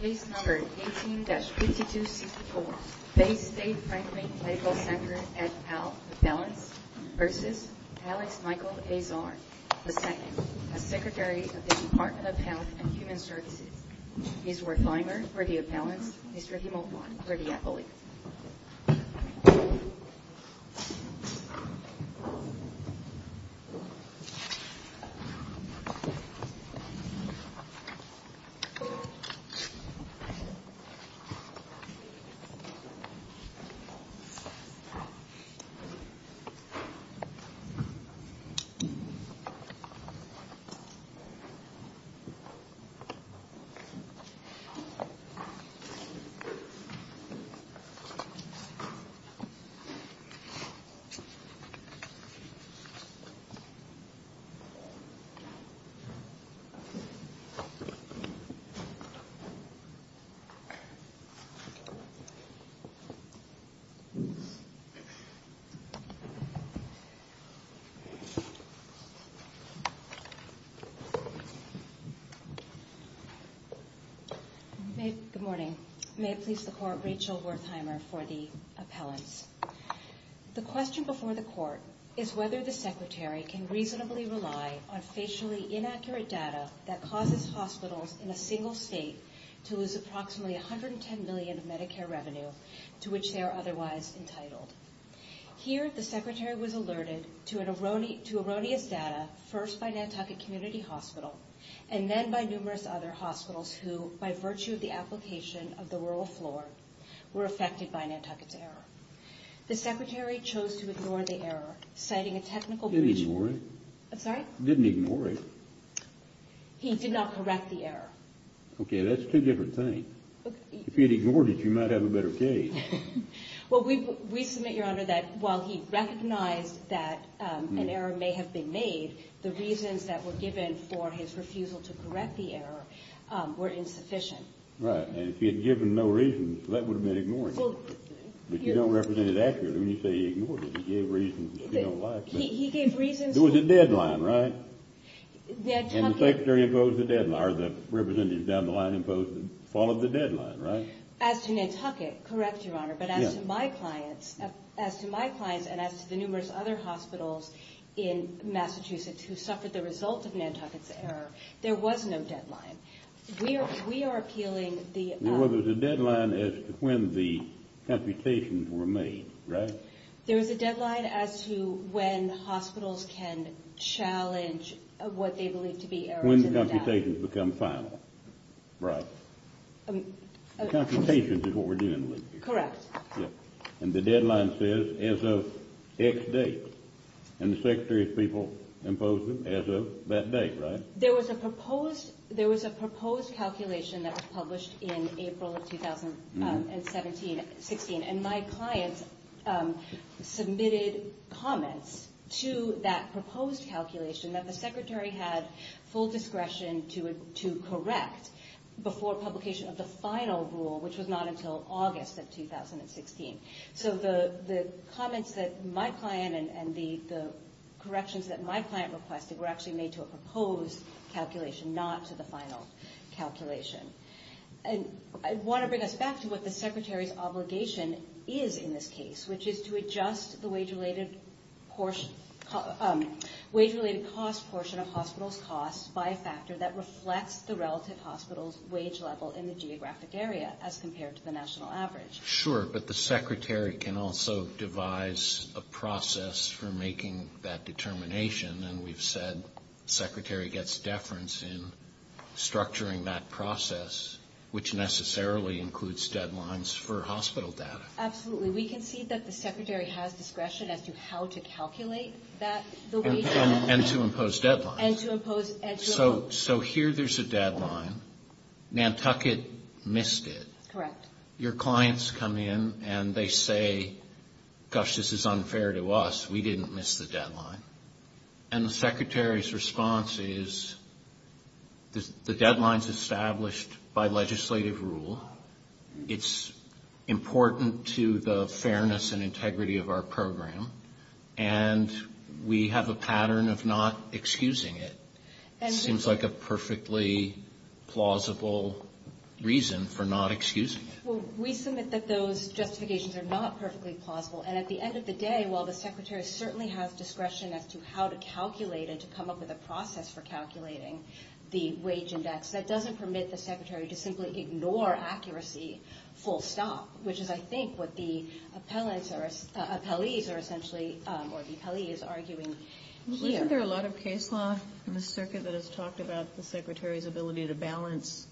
Case No. 18-5264, Baystate Franklin Medical Center, et al., Appellants v. Alex Michael Azar, II, as Secretary of the Department of Health and Human Services. Ms. Wertheimer, for the Appellants. Mr. Himobon, for the Appellants. Mr. Himobon, for the Appellants. Good morning. May it please the Court, Rachel Wertheimer, for the Appellants. The question before the Court is whether the Secretary can reasonably rely on facially inaccurate data that causes hospitals in a single state to lose approximately $110 million of Medicare revenue to which they are otherwise entitled. Here, the Secretary was alerted to erroneous data, first by Nantucket Community Hospital, and then by numerous other hospitals who, by virtue of the application of the rural floor, were affected by Nantucket's error. The Secretary chose to ignore the error, citing a technical breach... He didn't ignore it. I'm sorry? He didn't ignore it. He did not correct the error. Okay, that's two different things. If he had ignored it, you might have a better case. Well, we submit, Your Honor, that while he recognized that an error may have been made, the reasons that were given for his refusal to correct the error were insufficient. Right, and if he had given no reasons, that would have been ignoring it. But you don't represent it accurately when you say he ignored it. He gave reasons that you don't like. He gave reasons... It was a deadline, right? Nantucket... And the Secretary imposed the deadline, or the representatives down the line followed the deadline, right? As to Nantucket, correct, Your Honor, but as to my clients and as to the numerous other hospitals in Massachusetts who suffered the result of Nantucket's error, there was no deadline. We are appealing the... Well, there was a deadline as to when the computations were made, right? There was a deadline as to when hospitals can challenge what they believe to be errors... When the computations become final, right. Computations is what we're dealing with here. Correct. And the deadline says as of X date, and the Secretary of People imposed it as of that date, right? There was a proposed calculation that was published in April of 2017-16. And my client submitted comments to that proposed calculation that the Secretary had full discretion to correct before publication of the final rule, which was not until August of 2016. So the comments that my client and the corrections that my client requested were actually made to a proposed calculation, not to the final calculation. And I want to bring us back to what the Secretary's obligation is in this case, which is to adjust the wage-related cost portion of hospitals' costs by a factor that reflects the relative hospital's wage level in the geographic area as compared to the national average. Sure, but the Secretary can also devise a process for making that determination. And we've said the Secretary gets deference in structuring that process, which necessarily includes deadlines for hospital data. Absolutely. We can see that the Secretary has discretion as to how to calculate that, the wage... And to impose deadlines. And to impose... So here there's a deadline. Nantucket missed it. Correct. Your clients come in and they say, gosh, this is unfair to us. We didn't miss the deadline. And the Secretary's response is the deadline's established by legislative rule. It's important to the fairness and integrity of our program. And we have a pattern of not excusing it. Seems like a perfectly plausible reason for not excusing it. Well, we submit that those justifications are not perfectly plausible. And at the end of the day, while the Secretary certainly has discretion as to how to calculate and to come up with a process for calculating the wage index, that doesn't permit the Secretary to simply ignore accuracy full stop, which is, I think, what the appellees are essentially arguing here. Isn't there a lot of case law in the circuit that has talked about the Secretary's ability to balance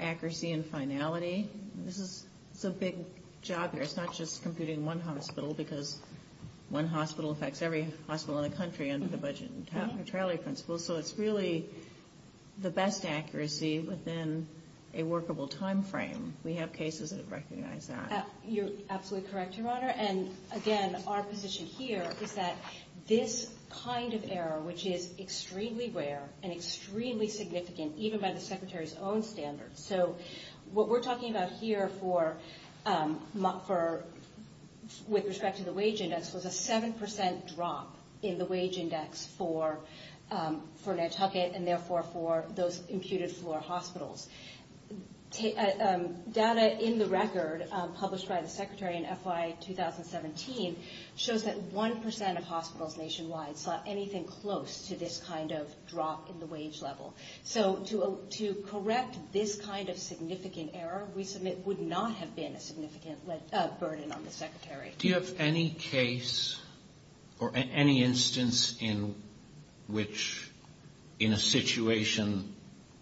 accuracy and finality? It's a big job here. It's not just computing one hospital, because one hospital affects every hospital in the country under the budget and tally principles. So it's really the best accuracy within a workable time frame. We have cases that recognize that. You're absolutely correct, Your Honor. And again, our position here is that this kind of error, which is extremely rare and extremely significant, even by the Secretary's own standards. So what we're talking about here with respect to the wage index was a 7% drop in the wage index for Nantucket and therefore for those imputed floor hospitals. Data in the record published by the Secretary in FY 2017 shows that 1% of hospitals nationwide saw anything close to this kind of drop in the wage level. So to correct this kind of significant error, we submit, would not have been a significant burden on the Secretary. Do you have any case or any instance in which, in a situation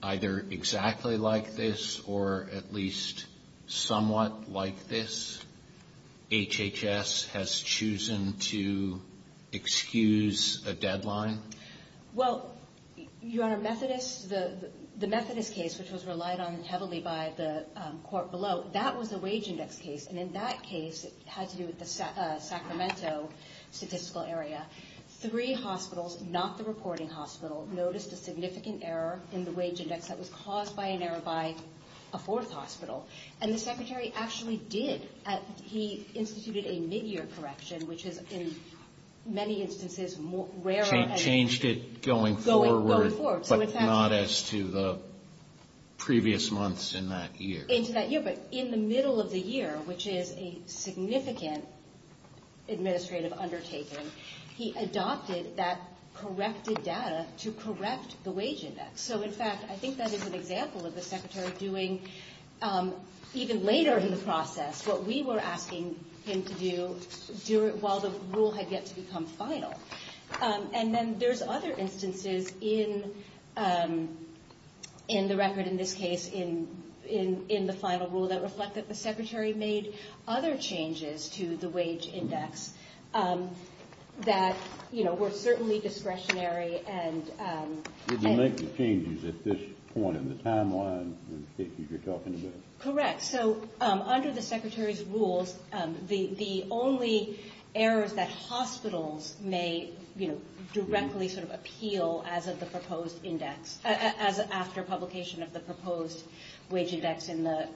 either exactly like this or at least somewhat like this, HHS has chosen to excuse a deadline? Well, Your Honor, Methodist, the Methodist case, which was relied on heavily by the court below, that was a wage index case. And in that case, it had to do with the Sacramento statistical area. Three hospitals, not the reporting hospital, noticed a significant error in the wage index that was caused by an error by a fourth hospital. And the Secretary actually did. He instituted a midyear correction, which is, in many instances, rarer. Changed it going forward, but not as to the previous months in that year. But in the middle of the year, which is a significant administrative undertaking, he adopted that corrected data to correct the wage index. So, in fact, I think that is an example of the Secretary doing, even later in the process, what we were asking him to do while the rule had yet to become final. And then there's other instances in the record, in this case, in the final rule, that reflect that the Secretary made other changes to the wage index that were certainly discretionary. Did he make the changes at this point in the timeline that you're talking about? Correct. So, under the Secretary's rules, the only errors that hospitals may, you know, directly sort of appeal as of the proposed index, as after publication of the proposed wage index in the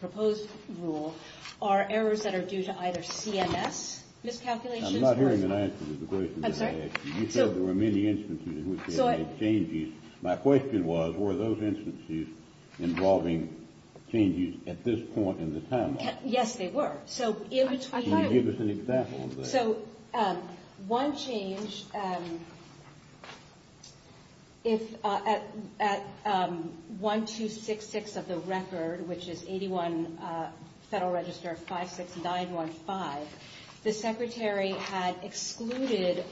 proposed rule, are errors that are due to either CMS miscalculations. I'm not hearing an answer to the question that I asked. I'm sorry? You said there were many instances in which they made changes. My question was, were those instances involving changes at this point in the timeline? Yes, they were. Can you give us an example of that? So, one change, if at 1266 of the record, which is 81 Federal Register 56915, the Secretary had excluded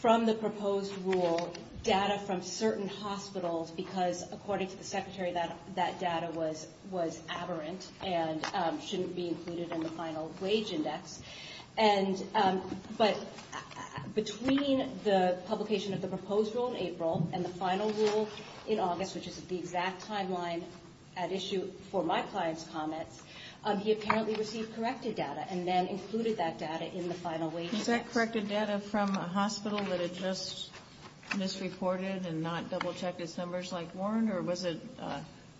from the proposed rule data from certain hospitals, because, according to the Secretary, that data was aberrant and shouldn't be included in the final wage index. But between the publication of the proposed rule in April and the final rule in August, which is the exact timeline at issue for my client's comments, he apparently received corrected data and then included that data in the final wage index. Was that corrected data from a hospital that had just misreported and not double-checked its numbers like Warren, or was it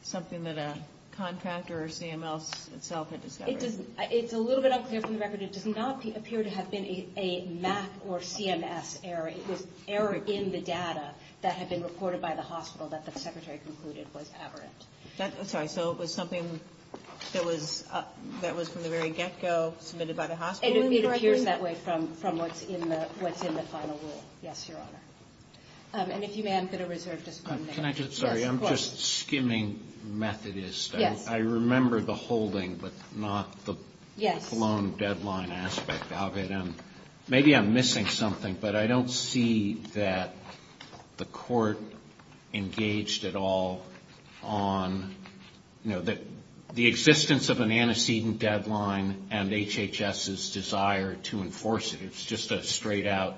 something that a contractor or CMS itself had discovered? It's a little bit unclear from the record. It does not appear to have been a MAC or CMS error. It was error in the data that had been reported by the hospital that the Secretary concluded was aberrant. I'm sorry. So it was something that was from the very get-go submitted by the hospital in the record? It appears that way from what's in the final rule. Yes, Your Honor. And if you may, I'm going to reserve just one minute. Can I just — sorry. I'm just skimming Methodist. Yes. I remember the holding, but not the — Yes. of it, and maybe I'm missing something, but I don't see that the Court engaged at all on, you know, the existence of an antecedent deadline and HHS's desire to enforce it. It's just a straight-out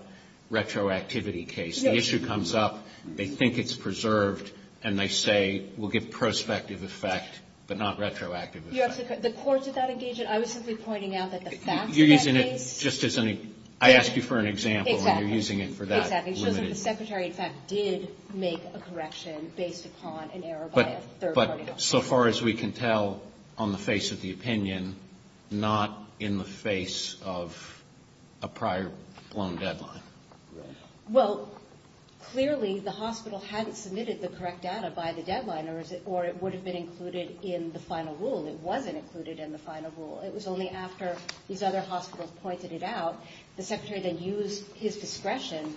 retroactivity case. The issue comes up, they think it's preserved, and they say, we'll give prospective effect, but not retroactive effect. The Court did not engage it. I was simply pointing out that the facts of that case — You're using it just as any — I asked you for an example, and you're using it for that. Exactly. It shows that the Secretary, in fact, did make a correction based upon an error by a third party. But so far as we can tell, on the face of the opinion, not in the face of a prior-blown deadline. Right. Well, clearly, the hospital hadn't submitted the correct data by the deadline, or it would have been included in the final rule. It wasn't included in the final rule. It was only after these other hospitals pointed it out, the Secretary then used his discretion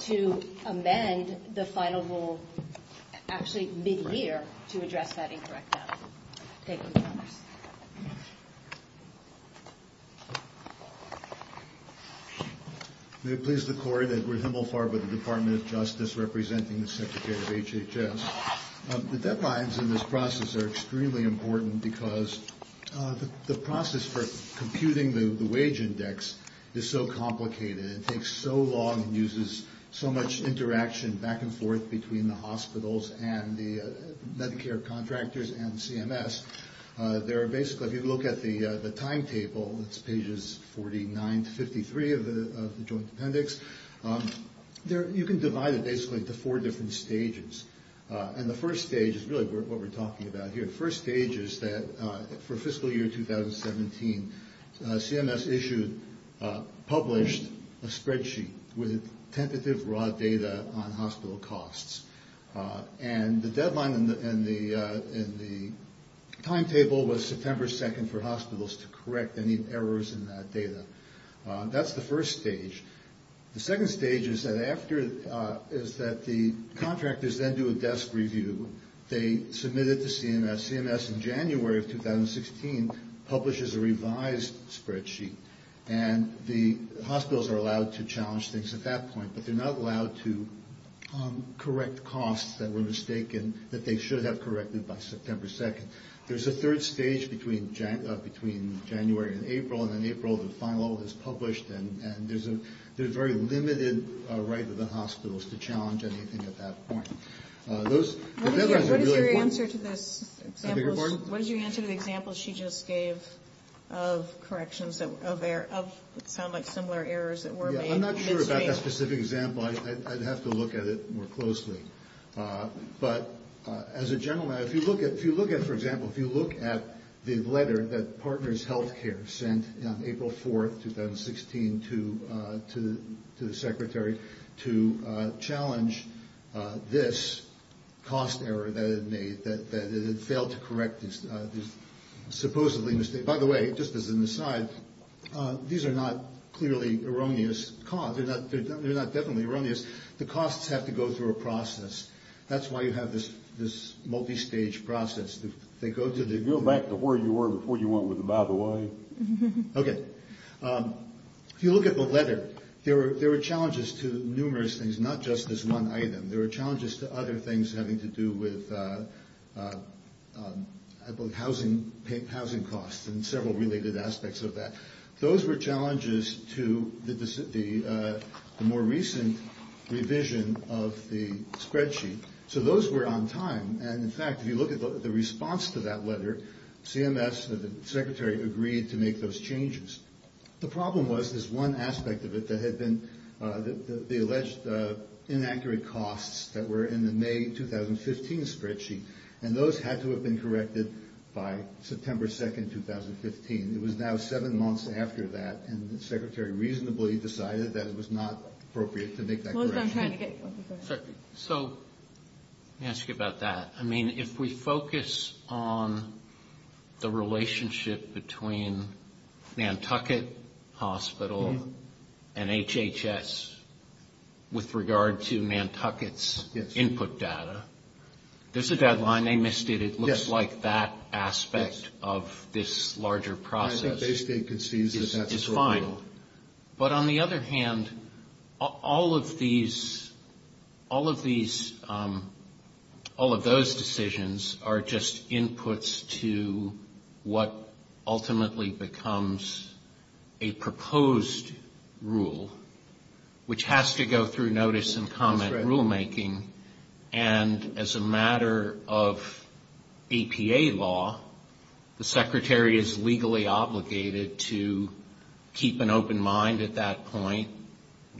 to amend the final rule, actually, mid-year, to address that incorrect data. Thank you. May it please the Court, Edward Himmelfarb of the Department of Justice, representing the Secretary of HHS. The deadlines in this process are extremely important because the process for computing the wage index is so complicated. It takes so long and uses so much interaction back and forth between the hospitals and the Medicare contractors and CMS. There are basically — if you look at the timetable, it's pages 49 to 53 of the Joint Appendix. You can divide it basically into four different stages. And the first stage is really what we're talking about here. The first stage is that for fiscal year 2017, CMS issued, published a spreadsheet with tentative raw data on hospital costs. And the deadline in the timetable was September 2nd for hospitals to correct any errors in that data. That's the first stage. The second stage is that after — is that the contractors then do a desk review. They submit it to CMS. CMS, in January of 2016, publishes a revised spreadsheet. And the hospitals are allowed to challenge things at that point, but they're not allowed to correct costs that were mistaken, that they should have corrected by September 2nd. There's a third stage between January and April, and then April the final level is published. And there's a very limited right of the hospitals to challenge anything at that point. Those are really important. What is your answer to this example? I beg your pardon? What is your answer to the example she just gave of corrections that sound like similar errors that were made? I'm not sure about that specific example. I'd have to look at it more closely. But as a general matter, if you look at, for example, if you look at the letter that Partners Healthcare sent on April 4th, 2016, to the secretary to challenge this cost error that it made, that it failed to correct this supposedly mistake. By the way, just as an aside, these are not clearly erroneous costs. They're not definitely erroneous. The costs have to go through a process. That's why you have this multistage process. Go back to where you were before you went with the by the way. Okay. If you look at the letter, there were challenges to numerous things, not just this one item. There were challenges to other things having to do with housing costs and several related aspects of that. Those were challenges to the more recent revision of the spreadsheet. So those were on time. And, in fact, if you look at the response to that letter, CMS, the secretary, agreed to make those changes. The problem was there's one aspect of it that had been the alleged inaccurate costs that were in the May 2015 spreadsheet, and those had to have been corrected by September 2nd, 2015. It was now seven months after that, and the secretary reasonably decided that it was not appropriate to make that correction. So let me ask you about that. I mean, if we focus on the relationship between Nantucket Hospital and HHS with regard to Nantucket's input data, there's a deadline. They missed it. It looks like that aspect of this larger process is fine. But, on the other hand, all of those decisions are just inputs to what ultimately becomes a proposed rule, which has to go through notice and comment rulemaking. And, as a matter of APA law, the secretary is legally obligated to keep an open mind at that point,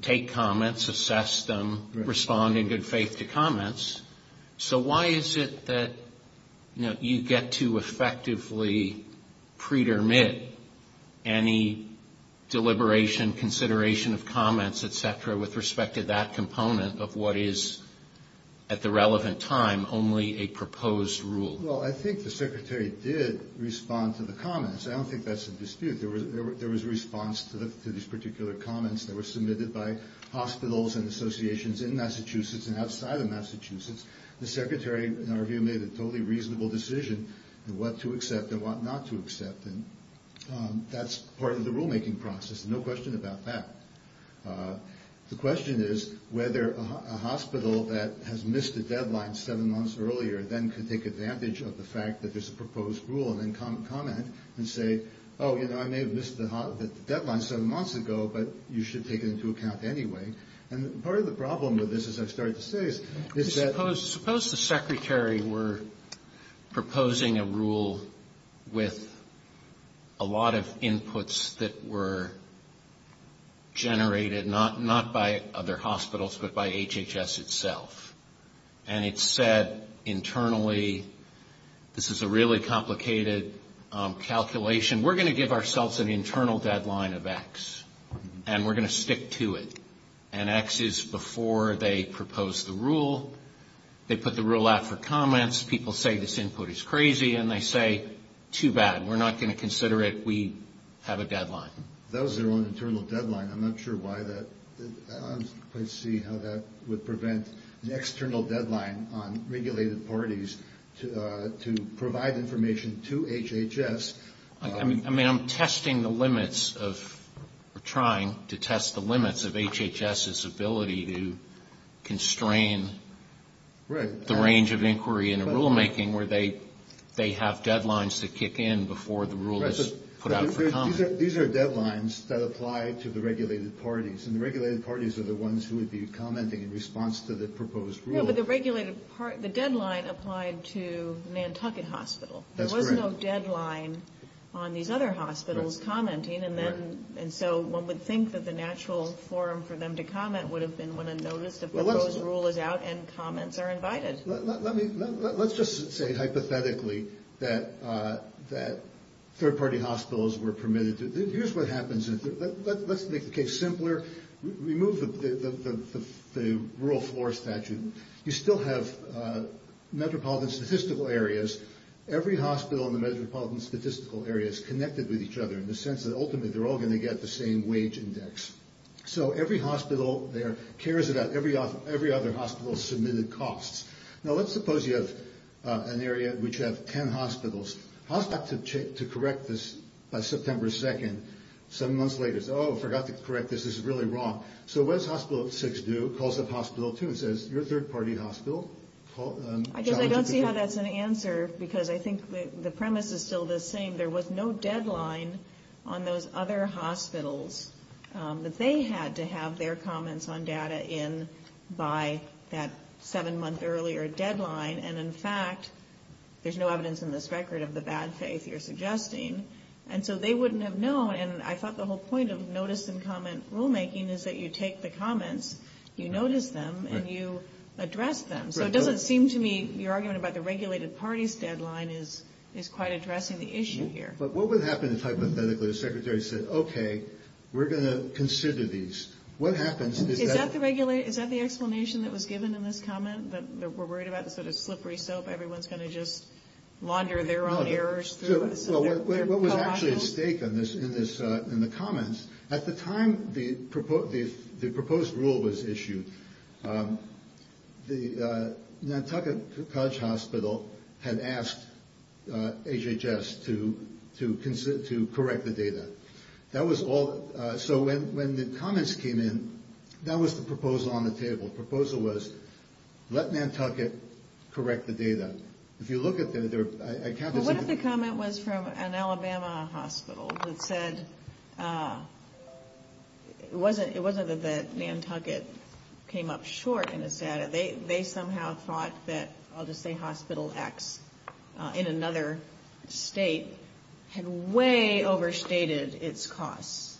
take comments, assess them, respond in good faith to comments. So why is it that you get to effectively pretermit any deliberation, consideration of comments, et cetera, with respect to that component of what is, at the relevant time, only a proposed rule? Well, I think the secretary did respond to the comments. I don't think that's a dispute. There was a response to these particular comments that were submitted by hospitals and associations in Massachusetts and outside of Massachusetts. The secretary, in our view, made a totally reasonable decision what to accept and what not to accept, and that's part of the rulemaking process. There's no question about that. The question is whether a hospital that has missed a deadline seven months earlier then can take advantage of the fact that there's a proposed rule and then comment and say, oh, you know, I may have missed the deadline seven months ago, but you should take it into account anyway. And part of the problem with this, as I've started to say, is that... proposing a rule with a lot of inputs that were generated not by other hospitals but by HHS itself. And it said internally, this is a really complicated calculation. We're going to give ourselves an internal deadline of X, and we're going to stick to it. And X is before they propose the rule. They put the rule out for comments. People say this input is crazy, and they say, too bad, we're not going to consider it. We have a deadline. That was their own internal deadline. I'm not sure why that... I'd like to see how that would prevent an external deadline on regulated parties to provide information to HHS. I mean, I'm testing the limits of... where they have deadlines to kick in before the rule is put out for comment. These are deadlines that apply to the regulated parties, and the regulated parties are the ones who would be commenting in response to the proposed rule. Yeah, but the deadline applied to Nantucket Hospital. That's correct. There was no deadline on these other hospitals commenting, and so one would think that the natural form for them to comment would have been when a notice of the proposed rule is out and comments are invited. Let's just say hypothetically that third-party hospitals were permitted to... Here's what happens. Let's make the case simpler. Remove the rural floor statute. You still have metropolitan statistical areas. Every hospital in the metropolitan statistical area is connected with each other in the sense that ultimately they're all going to get the same wage index. So every hospital there cares about every other hospital's submitted costs. Now let's suppose you have an area which has 10 hospitals. Hospital had to correct this by September 2nd. Seven months later, it's, oh, forgot to correct this. This is really wrong. So what does Hospital 6 do? It calls up Hospital 2 and says, you're a third-party hospital. I guess I don't see how that's an answer because I think the premise is still the same. There was no deadline on those other hospitals that they had to have their comments on data in by that seven-month earlier deadline. And, in fact, there's no evidence in this record of the bad faith you're suggesting. And so they wouldn't have known. And I thought the whole point of notice and comment rulemaking is that you take the comments, you notice them, and you address them. So it doesn't seem to me your argument about the regulated party's deadline is quite addressing the issue here. But what would happen if, hypothetically, the secretary said, okay, we're going to consider these? What happens? Is that the explanation that was given in this comment, that we're worried about this sort of slippery soap, everyone's going to just launder their own errors? What was actually at stake in the comments? At the time the proposed rule was issued, the Nantucket College Hospital had asked HHS to correct the data. That was all. So when the comments came in, that was the proposal on the table. The proposal was let Nantucket correct the data. But what if the comment was from an Alabama hospital that said it wasn't that Nantucket came up short in its data. They somehow thought that, I'll just say Hospital X, in another state, had way overstated its costs,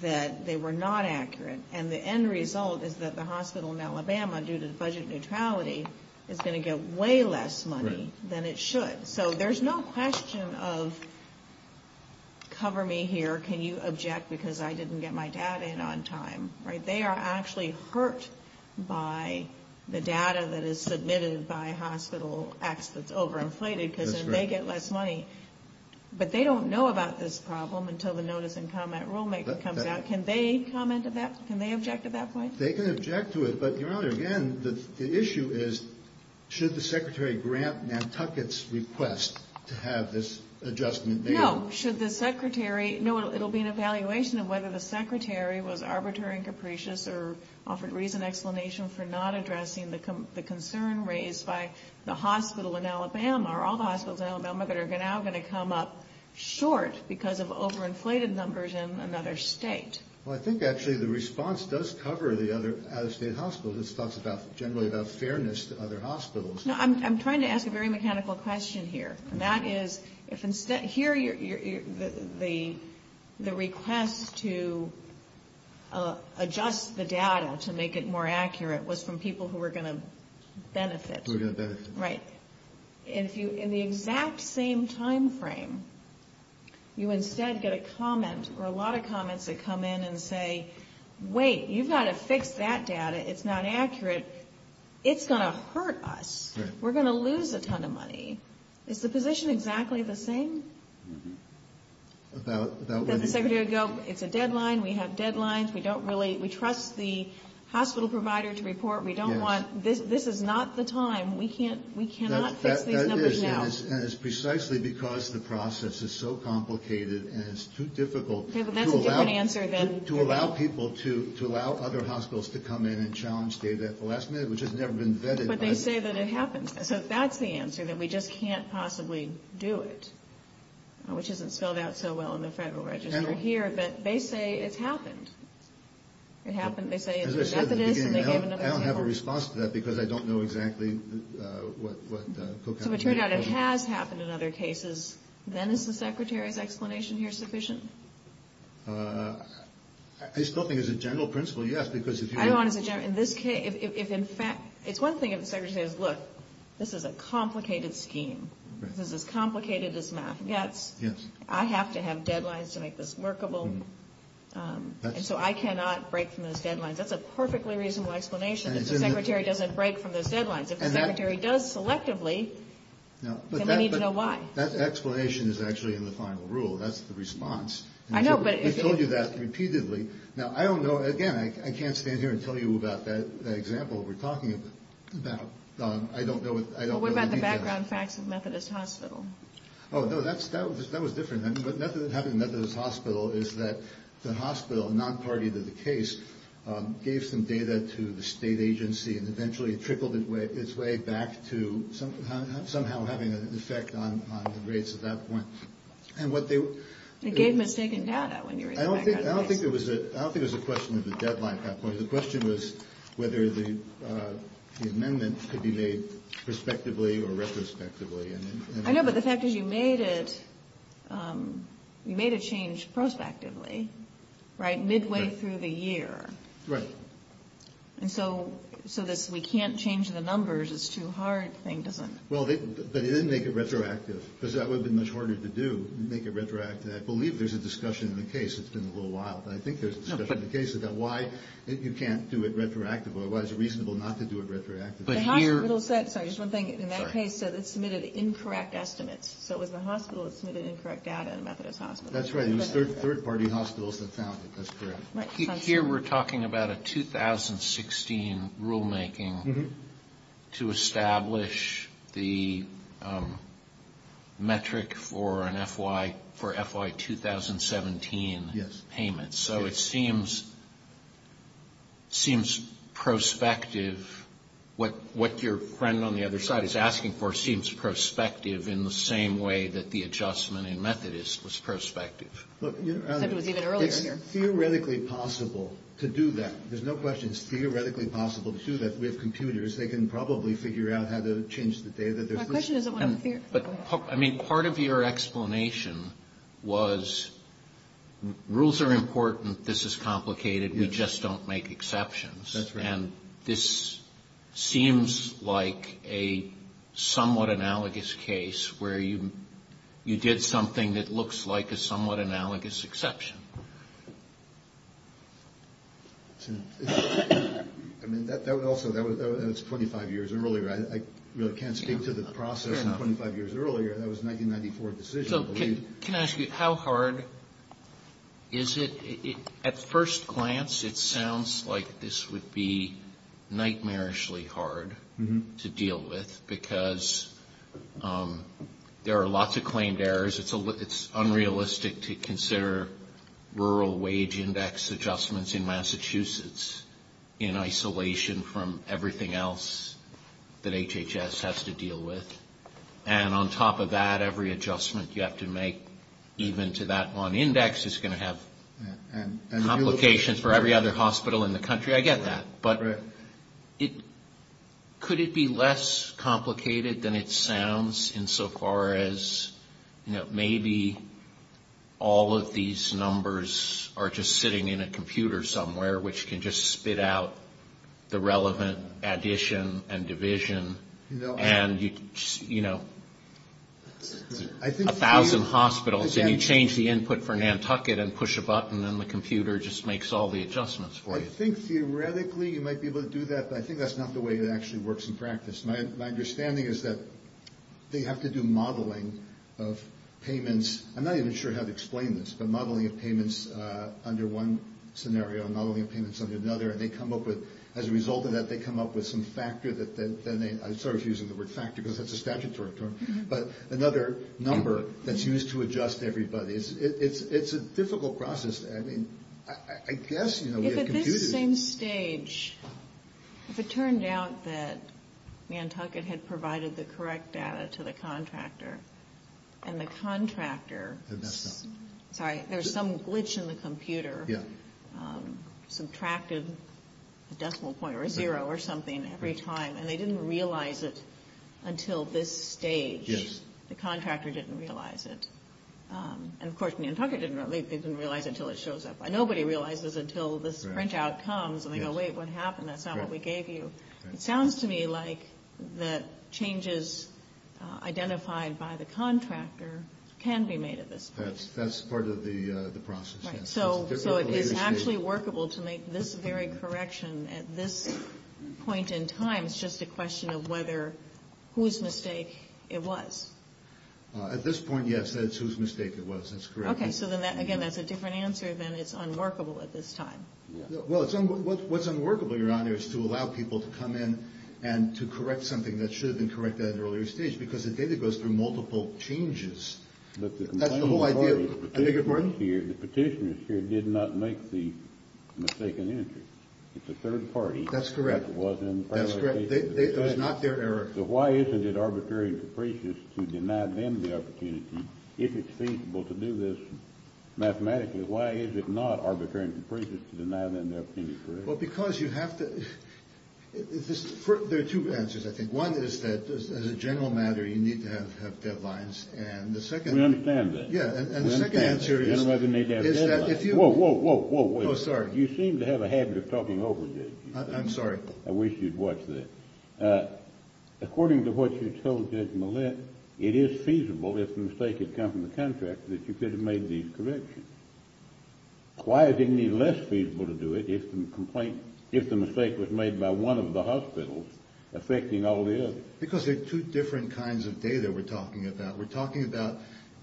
that they were not accurate. And the end result is that the hospital in Alabama, due to the budget neutrality, is going to get way less money than it should. So there's no question of cover me here, can you object because I didn't get my data in on time. They are actually hurt by the data that is submitted by Hospital X that's overinflated, because then they get less money. But they don't know about this problem until the notice and comment rulemaker comes out. Can they object to that point? They can object to it, but the issue is should the secretary grant Nantucket's request to have this adjustment made. No, it will be an evaluation of whether the secretary was arbitrary and capricious or offered reason and explanation for not addressing the concern raised by the hospital in Alabama, or all the hospitals in Alabama that are now going to come up short because of overinflated numbers in another state. Well, I think actually the response does cover the other out-of-state hospitals. It talks generally about fairness to other hospitals. No, I'm trying to ask a very mechanical question here, and that is, here the request to adjust the data to make it more accurate was from people who were going to benefit. Who were going to benefit. Right. In the exact same time frame, you instead get a comment or a lot of comments that come in and say, wait, you've got to fix that data. It's not accurate. It's going to hurt us. We're going to lose a ton of money. Is the position exactly the same? That the secretary would go, it's a deadline. We have deadlines. We don't really, we trust the hospital provider to report. We don't want, this is not the time. We cannot fix these numbers now. That is, and it's precisely because the process is so complicated and it's too difficult to allow people to allow other hospitals to come in and challenge data at the last minute, which has never been vetted. But they say that it happened. So that's the answer, that we just can't possibly do it, which isn't spelled out so well in the federal register here. But they say it's happened. It happened. As I said at the beginning, I don't have a response to that because I don't know exactly what co-counsel did. So it turned out it has happened in other cases. Then is the secretary's explanation here sufficient? I still think as a general principle, yes, because if you. I don't want to say general. In this case, if in fact, it's one thing if the secretary says, look, this is a complicated scheme. This is as complicated as math gets. I have to have deadlines to make this workable. And so I cannot break from those deadlines. That's a perfectly reasonable explanation. If the secretary doesn't break from those deadlines, if the secretary does selectively, then I need to know why. That explanation is actually in the final rule. That's the response. I know, but. I've told you that repeatedly. Now, I don't know. Again, I can't stand here and tell you about that example we're talking about. I don't know. What about the background facts of Methodist Hospital? Oh, no, that was different. What happened in Methodist Hospital is that the hospital, non-party to the case, gave some data to the state agency, and eventually it trickled its way back to somehow having an effect on the rates at that point. And what they. They gave mistaken data when you were. I don't think it was. I don't think it was a question of the deadline at that point. The question was whether the amendment could be made prospectively or retrospectively. I know, but the fact is you made it. You made a change prospectively, right, midway through the year. Right. And so this we can't change the numbers is too hard thing, doesn't it? Well, but it didn't make it retroactive, because that would have been much harder to do, make it retroactive. I believe there's a discussion in the case. It's been a little while, but I think there's a discussion in the case about why you can't do it retroactively or why it's reasonable not to do it retroactively. Sorry, just one thing. In that case, it submitted incorrect estimates. So it was the hospital that submitted incorrect data and Methodist Hospital. That's right. It was third-party hospitals that found it. That's correct. Here we're talking about a 2016 rulemaking to establish the metric for an FY 2017 payment. So it seems prospective. What your friend on the other side is asking for seems prospective in the same way that the adjustment in Methodist was prospective. Except it was even earlier. Theoretically possible to do that. There's no question it's theoretically possible to do that. We have computers. They can probably figure out how to change the data. My question isn't one of the theories. Part of your explanation was rules are important. This is complicated. We just don't make exceptions. That's right. And this seems like a somewhat analogous case where you did something that looks like a somewhat analogous exception. That's 25 years earlier. I really can't speak to the process of 25 years earlier. That was a 1994 decision, I believe. Can I ask you how hard is it? At first glance, it sounds like this would be nightmarishly hard to deal with because there are lots of claimed errors. It's unrealistic to consider rural wage index adjustments in Massachusetts in isolation from everything else that HHS has to deal with. And on top of that, every adjustment you have to make even to that one index is going to have complications for every other hospital in the country. I get that. But could it be less complicated than it sounds insofar as maybe all of these numbers are just sitting in a computer somewhere which can just spit out the relevant addition and division? And, you know, a thousand hospitals and you change the input for Nantucket and push a button and the computer just makes all the adjustments for you. I think theoretically you might be able to do that, but I think that's not the way it actually works in practice. My understanding is that they have to do modeling of payments. I'm not even sure how to explain this, but modeling of payments under one scenario and modeling of payments under another. And as a result of that, they come up with some factor. I'm sort of using the word factor because that's a statutory term. But another number that's used to adjust everybody. It's a difficult process. I mean, I guess, you know, we have computed. If at this same stage, if it turned out that Nantucket had provided the correct data to the contractor and the contractor. They messed up. Sorry. There's some glitch in the computer. Yeah. Subtracted a decimal point or a zero or something every time. And they didn't realize it until this stage. Yes. The contractor didn't realize it. And, of course, Nantucket didn't realize it until it shows up. Nobody realizes it until this printout comes and they go, wait, what happened? That's not what we gave you. It sounds to me like the changes identified by the contractor can be made at this point. That's part of the process. So it is actually workable to make this very correction at this point in time. It's just a question of whether whose mistake it was. At this point, yes. That's whose mistake it was. That's correct. Okay. So then, again, that's a different answer than it's unworkable at this time. Well, what's unworkable, Your Honor, is to allow people to come in and to correct something that should have been corrected at an earlier stage. Because the data goes through multiple changes. That's the whole idea. The petitioners here did not make the mistaken entry. It's a third party. That's correct. That's correct. It was not their error. So why isn't it arbitrary and capricious to deny them the opportunity, if it's feasible to do this mathematically, why is it not arbitrary and capricious to deny them the opportunity to correct it? Well, because you have to – there are two answers, I think. One is that, as a general matter, you need to have deadlines. And the second – We understand that. Yeah. And the second answer is that if you – Whoa, whoa, whoa, whoa. Oh, sorry. You seem to have a habit of talking over me. I'm sorry. I wish you'd watch this. According to what you told Judge Millett, it is feasible, if the mistake had come from the contractor, that you could have made these corrections. Why is it any less feasible to do it if the complaint – if the mistake was made by one of the hospitals affecting all the others? Because there are two different kinds of data we're talking about. We're talking about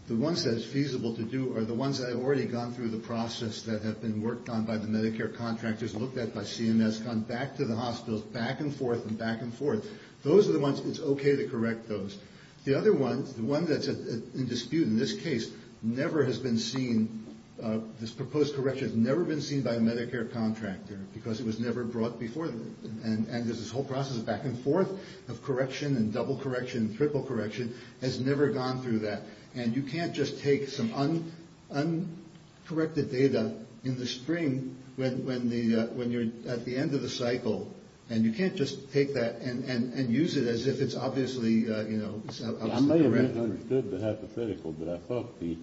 the ones that it's feasible to do are the ones that have already gone through the process that have been worked on by the Medicare contractors, looked at by CMS, gone back to the hospitals, back and forth and back and forth. Those are the ones it's okay to correct those. The other one, the one that's in dispute in this case, never has been seen – this proposed correction has never been seen by a Medicare contractor because it was never brought before them. And there's this whole process of back and forth of correction and double correction and triple correction has never gone through that. And you can't just take some uncorrected data in the spring when you're at the end of the cycle and you can't just take that and use it as if it's obviously – I may have misunderstood the hypothetical, but I thought the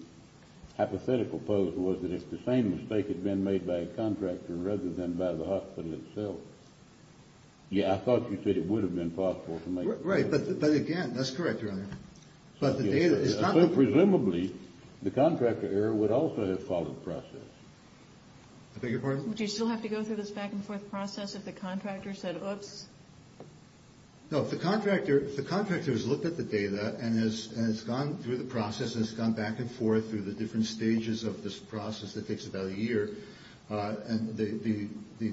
hypothetical pose was that if the same mistake had been made by a contractor rather than by the hospital itself. Yeah, I thought you said it would have been possible to make – Right, but again, that's correct, Your Honor. Presumably, the contractor error would also have followed the process. I beg your pardon? Would you still have to go through this back and forth process if the contractor said, oops? No, if the contractor has looked at the data and has gone through the process and has gone back and forth through the different stages of this process that takes about a year, the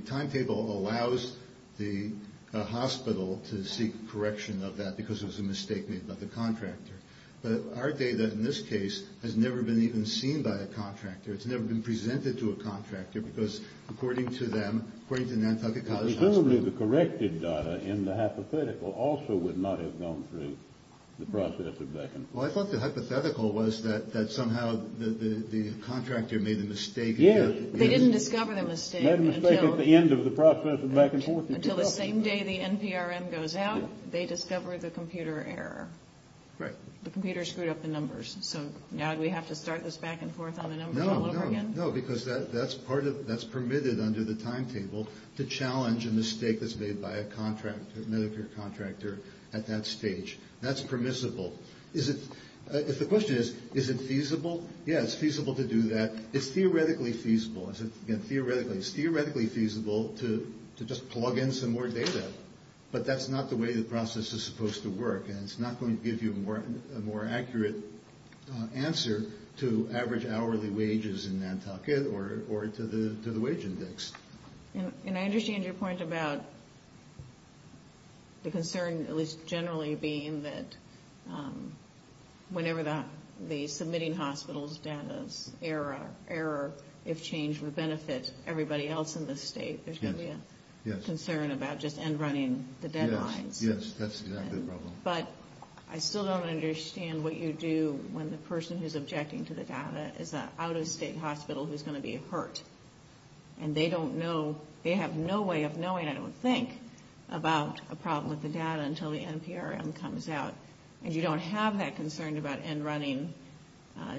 timetable allows the hospital to seek correction of that because it was a mistake made by the contractor. But our data in this case has never been even seen by a contractor. It's never been presented to a contractor because according to them, according to Nantucket College Hospital – Presumably, the corrected data in the hypothetical also would not have gone through the process of back and forth. Well, I thought the hypothetical was that somehow the contractor made a mistake – Yeah, they didn't discover the mistake until – Until the same day the NPRM goes out, they discover the computer error. Right. The computer screwed up the numbers. So now do we have to start this back and forth on the numbers all over again? No, because that's permitted under the timetable to challenge a mistake that's made by a Medicare contractor at that stage. That's permissible. If the question is, is it feasible? Yeah, it's feasible to do that. It's theoretically feasible. It's theoretically feasible to just plug in some more data, but that's not the way the process is supposed to work, and it's not going to give you a more accurate answer to average hourly wages in Nantucket or to the wage index. And I understand your point about the concern, at least generally, being that whenever the submitting hospital's data's error, if changed, would benefit everybody else in the state. There's going to be a concern about just end-running the deadlines. Yes, yes, that's exactly the problem. But I still don't understand what you do when the person who's objecting to the data is an out-of-state hospital who's going to be hurt, and they don't know – they have no way of knowing, I don't think, about a problem with the data until the NPRM comes out, and you don't have that concern about end-running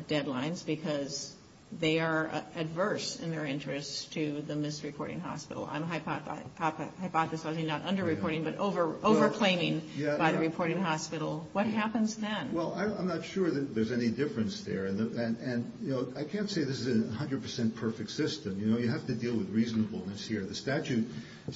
deadlines because they are adverse in their interest to the misreporting hospital. I'm hypothesizing not under-reporting, but over-claiming by the reporting hospital. What happens then? Well, I'm not sure that there's any difference there, and, you know, I can't say this is a 100 percent perfect system. You know, you have to deal with reasonableness here. As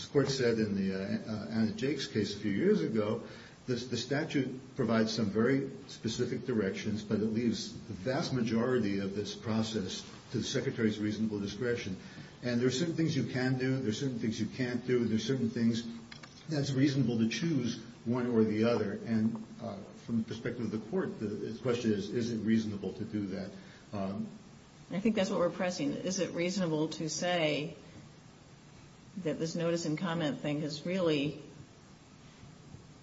the Court said in Anna Jake's case a few years ago, the statute provides some very specific directions, but it leaves the vast majority of this process to the Secretary's reasonable discretion. And there are certain things you can do, there are certain things you can't do, and there are certain things that it's reasonable to choose one or the other. And from the perspective of the Court, the question is, is it reasonable to do that? I think that's what we're pressing. Is it reasonable to say that this notice and comment thing is really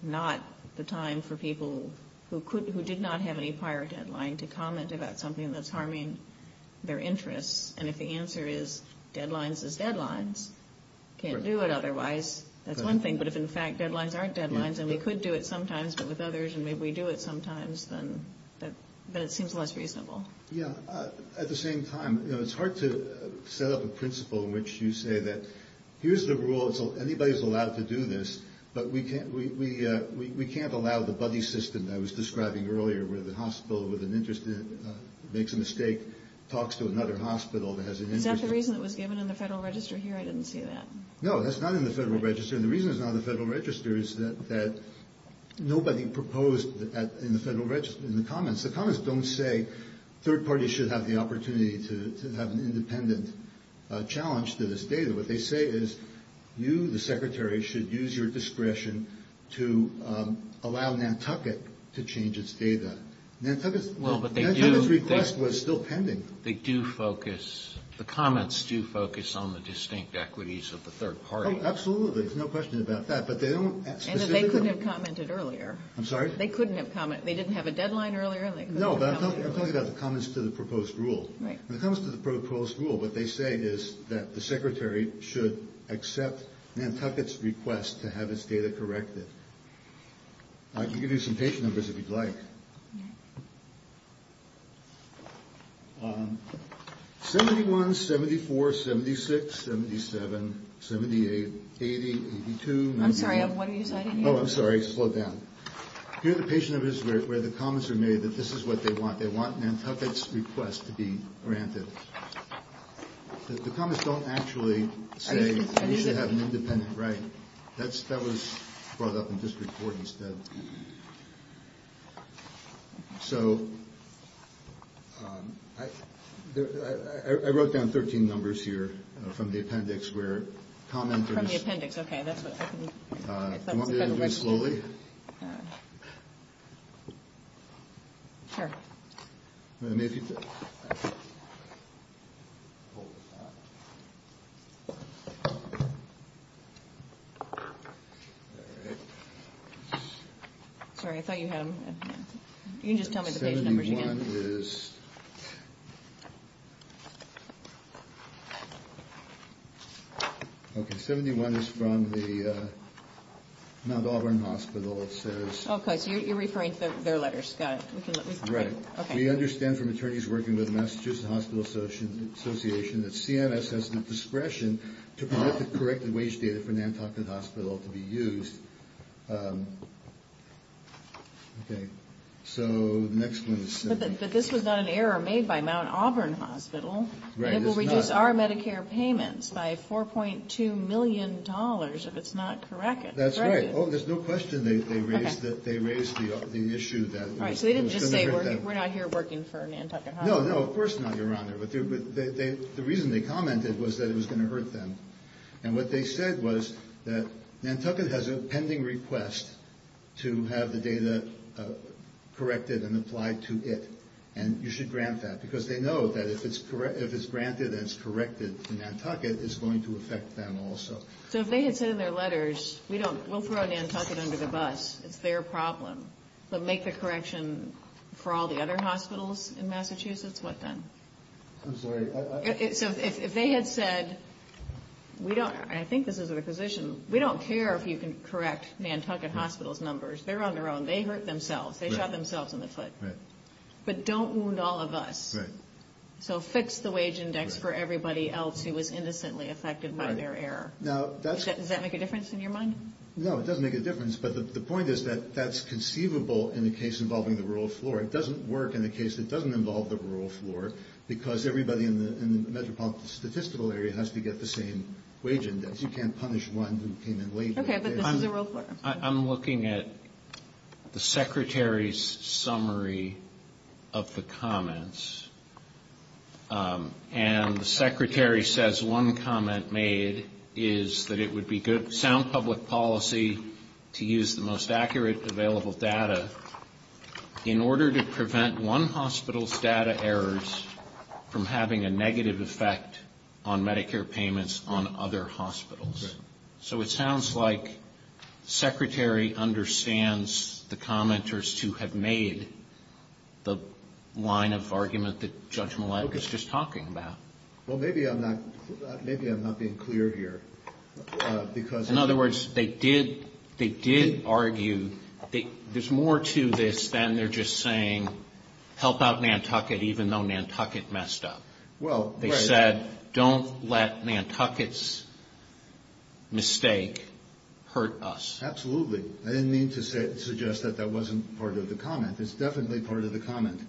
not the time for people who did not have any prior deadline to comment about something that's harming their interests? And if the answer is deadlines is deadlines, can't do it otherwise, that's one thing. But if, in fact, deadlines aren't deadlines, and we could do it sometimes, but with others, and maybe we do it sometimes, then it seems less reasonable. Yeah. At the same time, you know, it's hard to set up a principle in which you say that here's the rule, anybody's allowed to do this, but we can't allow the buddy system that I was describing earlier where the hospital with an interest in it makes a mistake, talks to another hospital that has an interest in it. Is that the reason it was given in the Federal Register here? I didn't see that. No, that's not in the Federal Register. And the reason it's not in the Federal Register is that nobody proposed in the comments. The comments don't say third parties should have the opportunity to have an independent challenge to this data. What they say is you, the secretary, should use your discretion to allow Nantucket to change its data. Nantucket's request was still pending. They do focus, the comments do focus on the distinct equities of the third party. Oh, absolutely. There's no question about that. And they couldn't have commented earlier. I'm sorry? They couldn't have commented. They didn't have a deadline earlier? No, but I'm talking about the comments to the proposed rule. Right. The comments to the proposed rule, what they say is that the secretary should accept Nantucket's request to have its data corrected. You can do some page numbers if you'd like. 71, 74, 76, 77, 78, 80, 82. I'm sorry, what are you citing here? Oh, I'm sorry, slow down. Here the patient is where the comments are made that this is what they want. They want Nantucket's request to be granted. The comments don't actually say you should have an independent right. That was brought up in district court instead. So I wrote down 13 numbers here from the appendix where commenters The appendix, okay, that's what I can, if that was the appendix. Do you want me to do it slowly? Sure. And if you could. All right. Sorry, I thought you had them. You can just tell me the page numbers again. 71 is. Okay, 71 is from the Mount Auburn Hospital. It says. Okay, so you're referring to their letters. Got it. Right. Okay. We understand from attorneys working with Massachusetts Hospital Association that CMS has the discretion to correct the wage data for Nantucket Hospital to be used. Okay. So the next one is. But this was not an error made by Mount Auburn Hospital. Right, it's not. It will reduce our Medicare payments by $4.2 million if it's not corrected. That's right. Oh, there's no question they raised the issue that it was going to hurt them. All right, so they didn't just say we're not here working for Nantucket Hospital. No, no, of course not, Your Honor. But the reason they commented was that it was going to hurt them. And what they said was that Nantucket has a pending request to have the data corrected and applied to it, and you should grant that. Because they know that if it's granted and it's corrected to Nantucket, it's going to affect them also. So if they had said in their letters, we'll throw Nantucket under the bus, it's their problem, but make the correction for all the other hospitals in Massachusetts, what then? I'm sorry. So if they had said, and I think this is a position, we don't care if you can correct Nantucket Hospital's numbers, they're on their own. They hurt themselves. They shot themselves in the foot. Right. But don't wound all of us. Right. So fix the wage index for everybody else who was innocently affected by their error. Does that make a difference in your mind? No, it doesn't make a difference. But the point is that that's conceivable in a case involving the rural floor. It doesn't work in a case that doesn't involve the rural floor, because everybody in the metropolitan statistical area has to get the same wage index. You can't punish one who came in late. Okay, but this is a rural floor. I'm looking at the Secretary's summary of the comments. And the Secretary says one comment made is that it would be good, sound public policy, to use the most accurate available data in order to prevent one hospital's data errors from having a negative effect on Medicare payments on other hospitals. So it sounds like the Secretary understands the commenters who have made the line of argument that Judge Millett was just talking about. Well, maybe I'm not being clear here. In other words, they did argue that there's more to this than they're just saying, help out Nantucket even though Nantucket messed up. They said, don't let Nantucket's mistake hurt us. Absolutely. I didn't mean to suggest that that wasn't part of the comment. It's definitely part of the comment.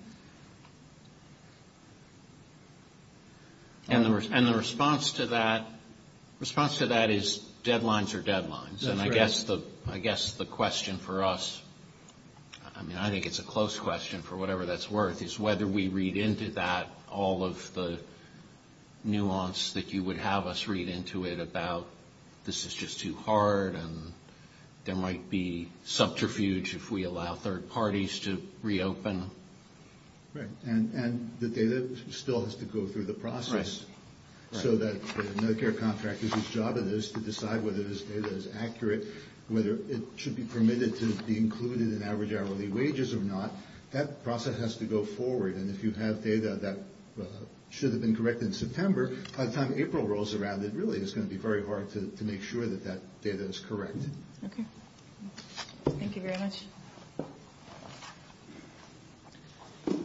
And the response to that is deadlines are deadlines. And I guess the question for us, I mean, I think it's a close question for whatever that's worth, is whether we read into that all of the nuance that you would have us read into it about this is just too hard and there might be subterfuge if we allow third parties to reopen. Right. And the data still has to go through the process. Right. So that the Medicare contractor's job is to decide whether this data is accurate, whether it should be permitted to be included in average hourly wages or not. That process has to go forward. And if you have data that should have been corrected in September, by the time April rolls around, it really is going to be very hard to make sure that that data is correct. Okay. Thank you very much. Do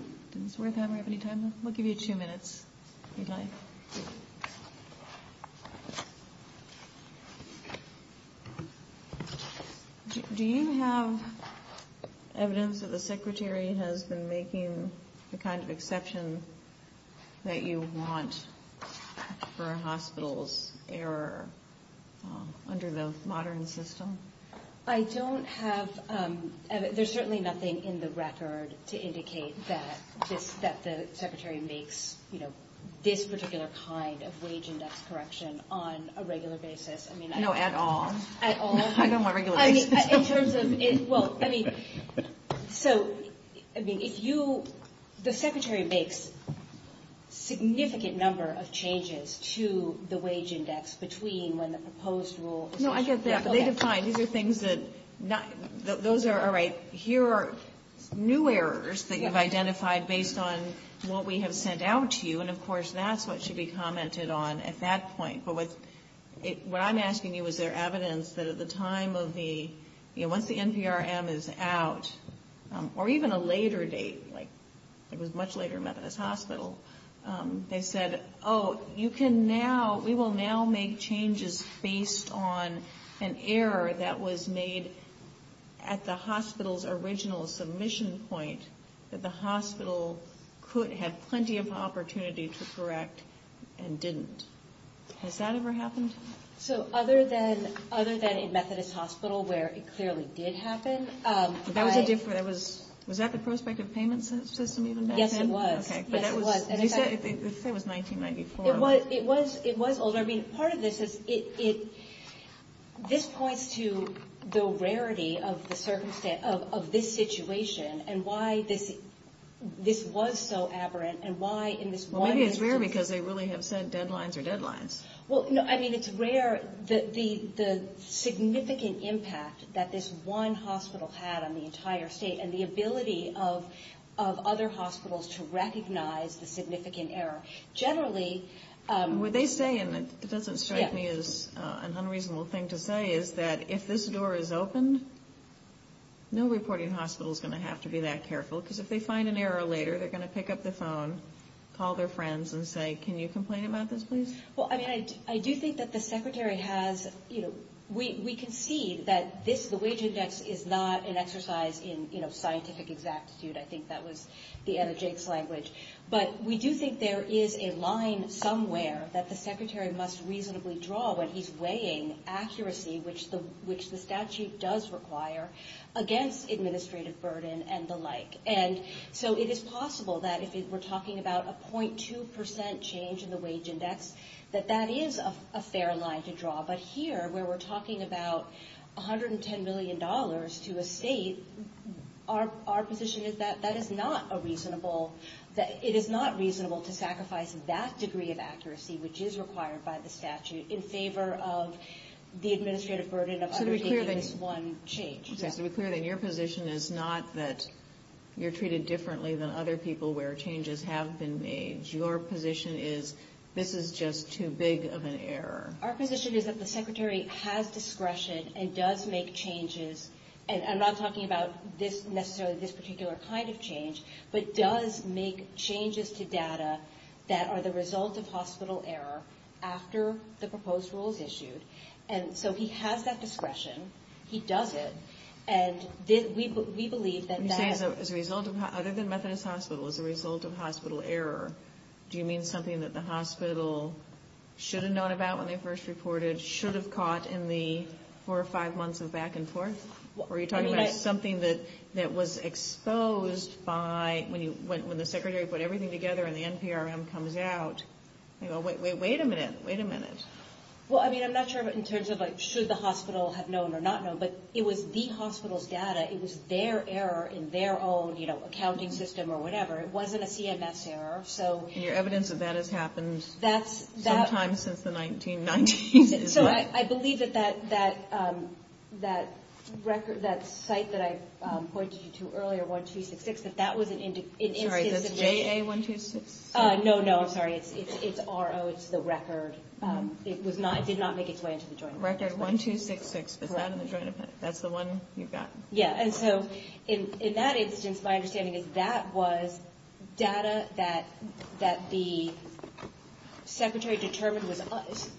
we have any time left? We'll give you two minutes if you'd like. Do you have evidence that the Secretary has been making the kind of exception that you want for a hospital's error under the modern system? I don't have. There's certainly nothing in the record to indicate that the Secretary makes, you know, this particular kind of wage index correction on a regular basis. No, at all. At all? I don't want regular basis. I mean, in terms of, well, I mean, so, I mean, if you, the Secretary makes significant number of changes to the wage index between when the proposed rule. No, I get that. But they define, these are things that, those are, all right, here are new errors that you've identified based on what we have sent out to you. And, of course, that's what should be commented on at that point. But what I'm asking you, is there evidence that at the time of the, you know, once the NPRM is out, or even a later date, like it was much later in Methodist Hospital, they said, oh, you can now, we will now make changes based on an error that was made at the hospital's original submission point that the hospital could have plenty of opportunity to correct and didn't. Has that ever happened? So other than in Methodist Hospital where it clearly did happen. That was a different, was that the prospective payment system even back then? Yes, it was. You said it was 1994. It was older. I mean, part of this is, this points to the rarity of the circumstance, of this situation, and why this was so aberrant, and why in this one instance. Well, maybe it's rare because they really have set deadlines or deadlines. Well, no, I mean, it's rare, the significant impact that this one hospital had on the entire state, and the ability of other hospitals to recognize the significant error. Generally. What they say, and it doesn't strike me as an unreasonable thing to say, is that if this door is open, no reporting hospital is going to have to be that careful, because if they find an error later, they're going to pick up the phone, call their friends, and say, can you complain about this, please? Well, I mean, I do think that the Secretary has, you know, we concede that this, the wage index is not an exercise in, you know, scientific exactitude. I think that was the end of Jake's language. But we do think there is a line somewhere that the Secretary must reasonably draw when he's weighing accuracy, which the statute does require, against administrative burden and the like. And so it is possible that if we're talking about a 0.2% change in the wage index, that that is a fair line to draw. But here, where we're talking about $110 million to a state, our position is that that is not a reasonable, that it is not reasonable to sacrifice that degree of accuracy, which is required by the statute, in favor of the administrative burden of undertaking this one change. So to be clear, then, your position is not that you're treated differently than other people where changes have been made. Your position is this is just too big of an error. Our position is that the Secretary has discretion and does make changes. And I'm not talking about this, necessarily, this particular kind of change, but does make changes to data that are the result of hospital error after the proposed rule is issued. And so he has that discretion. He does it. And we believe that that is... When you say as a result of, other than Methodist Hospital, as a result of hospital error, do you mean something that the hospital should have known about when they first reported, should have caught in the four or five months of back and forth? Or are you talking about something that was exposed by... When the Secretary put everything together and the NPRM comes out, wait a minute, wait a minute. Well, I mean, I'm not sure in terms of should the hospital have known or not known, but it was the hospital's data. It was their error in their own accounting system or whatever. It wasn't a CMS error, so... And your evidence that that has happened sometime since the 1990s is what... So I believe that that site that I pointed you to earlier, 1266, that that was an instance of... Sorry, that's JA1266? No, no, I'm sorry. It's RO. It's the record. It did not make its way into the Joint Appendix. Record 1266. Is that in the Joint Appendix? That's the one you've got? Yeah, and so in that instance, my understanding is that was data that the Secretary determined was...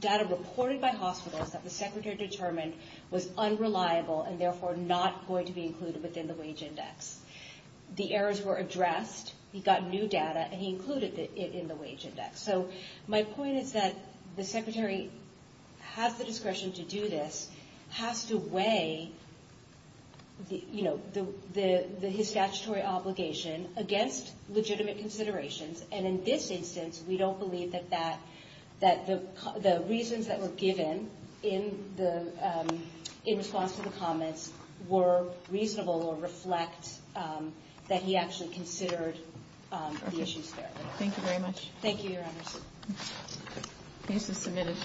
Data reported by hospitals that the Secretary determined was unreliable and therefore not going to be included within the wage index. The errors were addressed. He got new data, and he included it in the wage index. So my point is that the Secretary has the discretion to do this, has to weigh his statutory obligation against legitimate considerations, and in this instance we don't believe that the reasons that were given in response to the comments were reasonable or reflect that he actually considered the issues fairly. Thank you very much. Thank you, Your Honors. Case is submitted.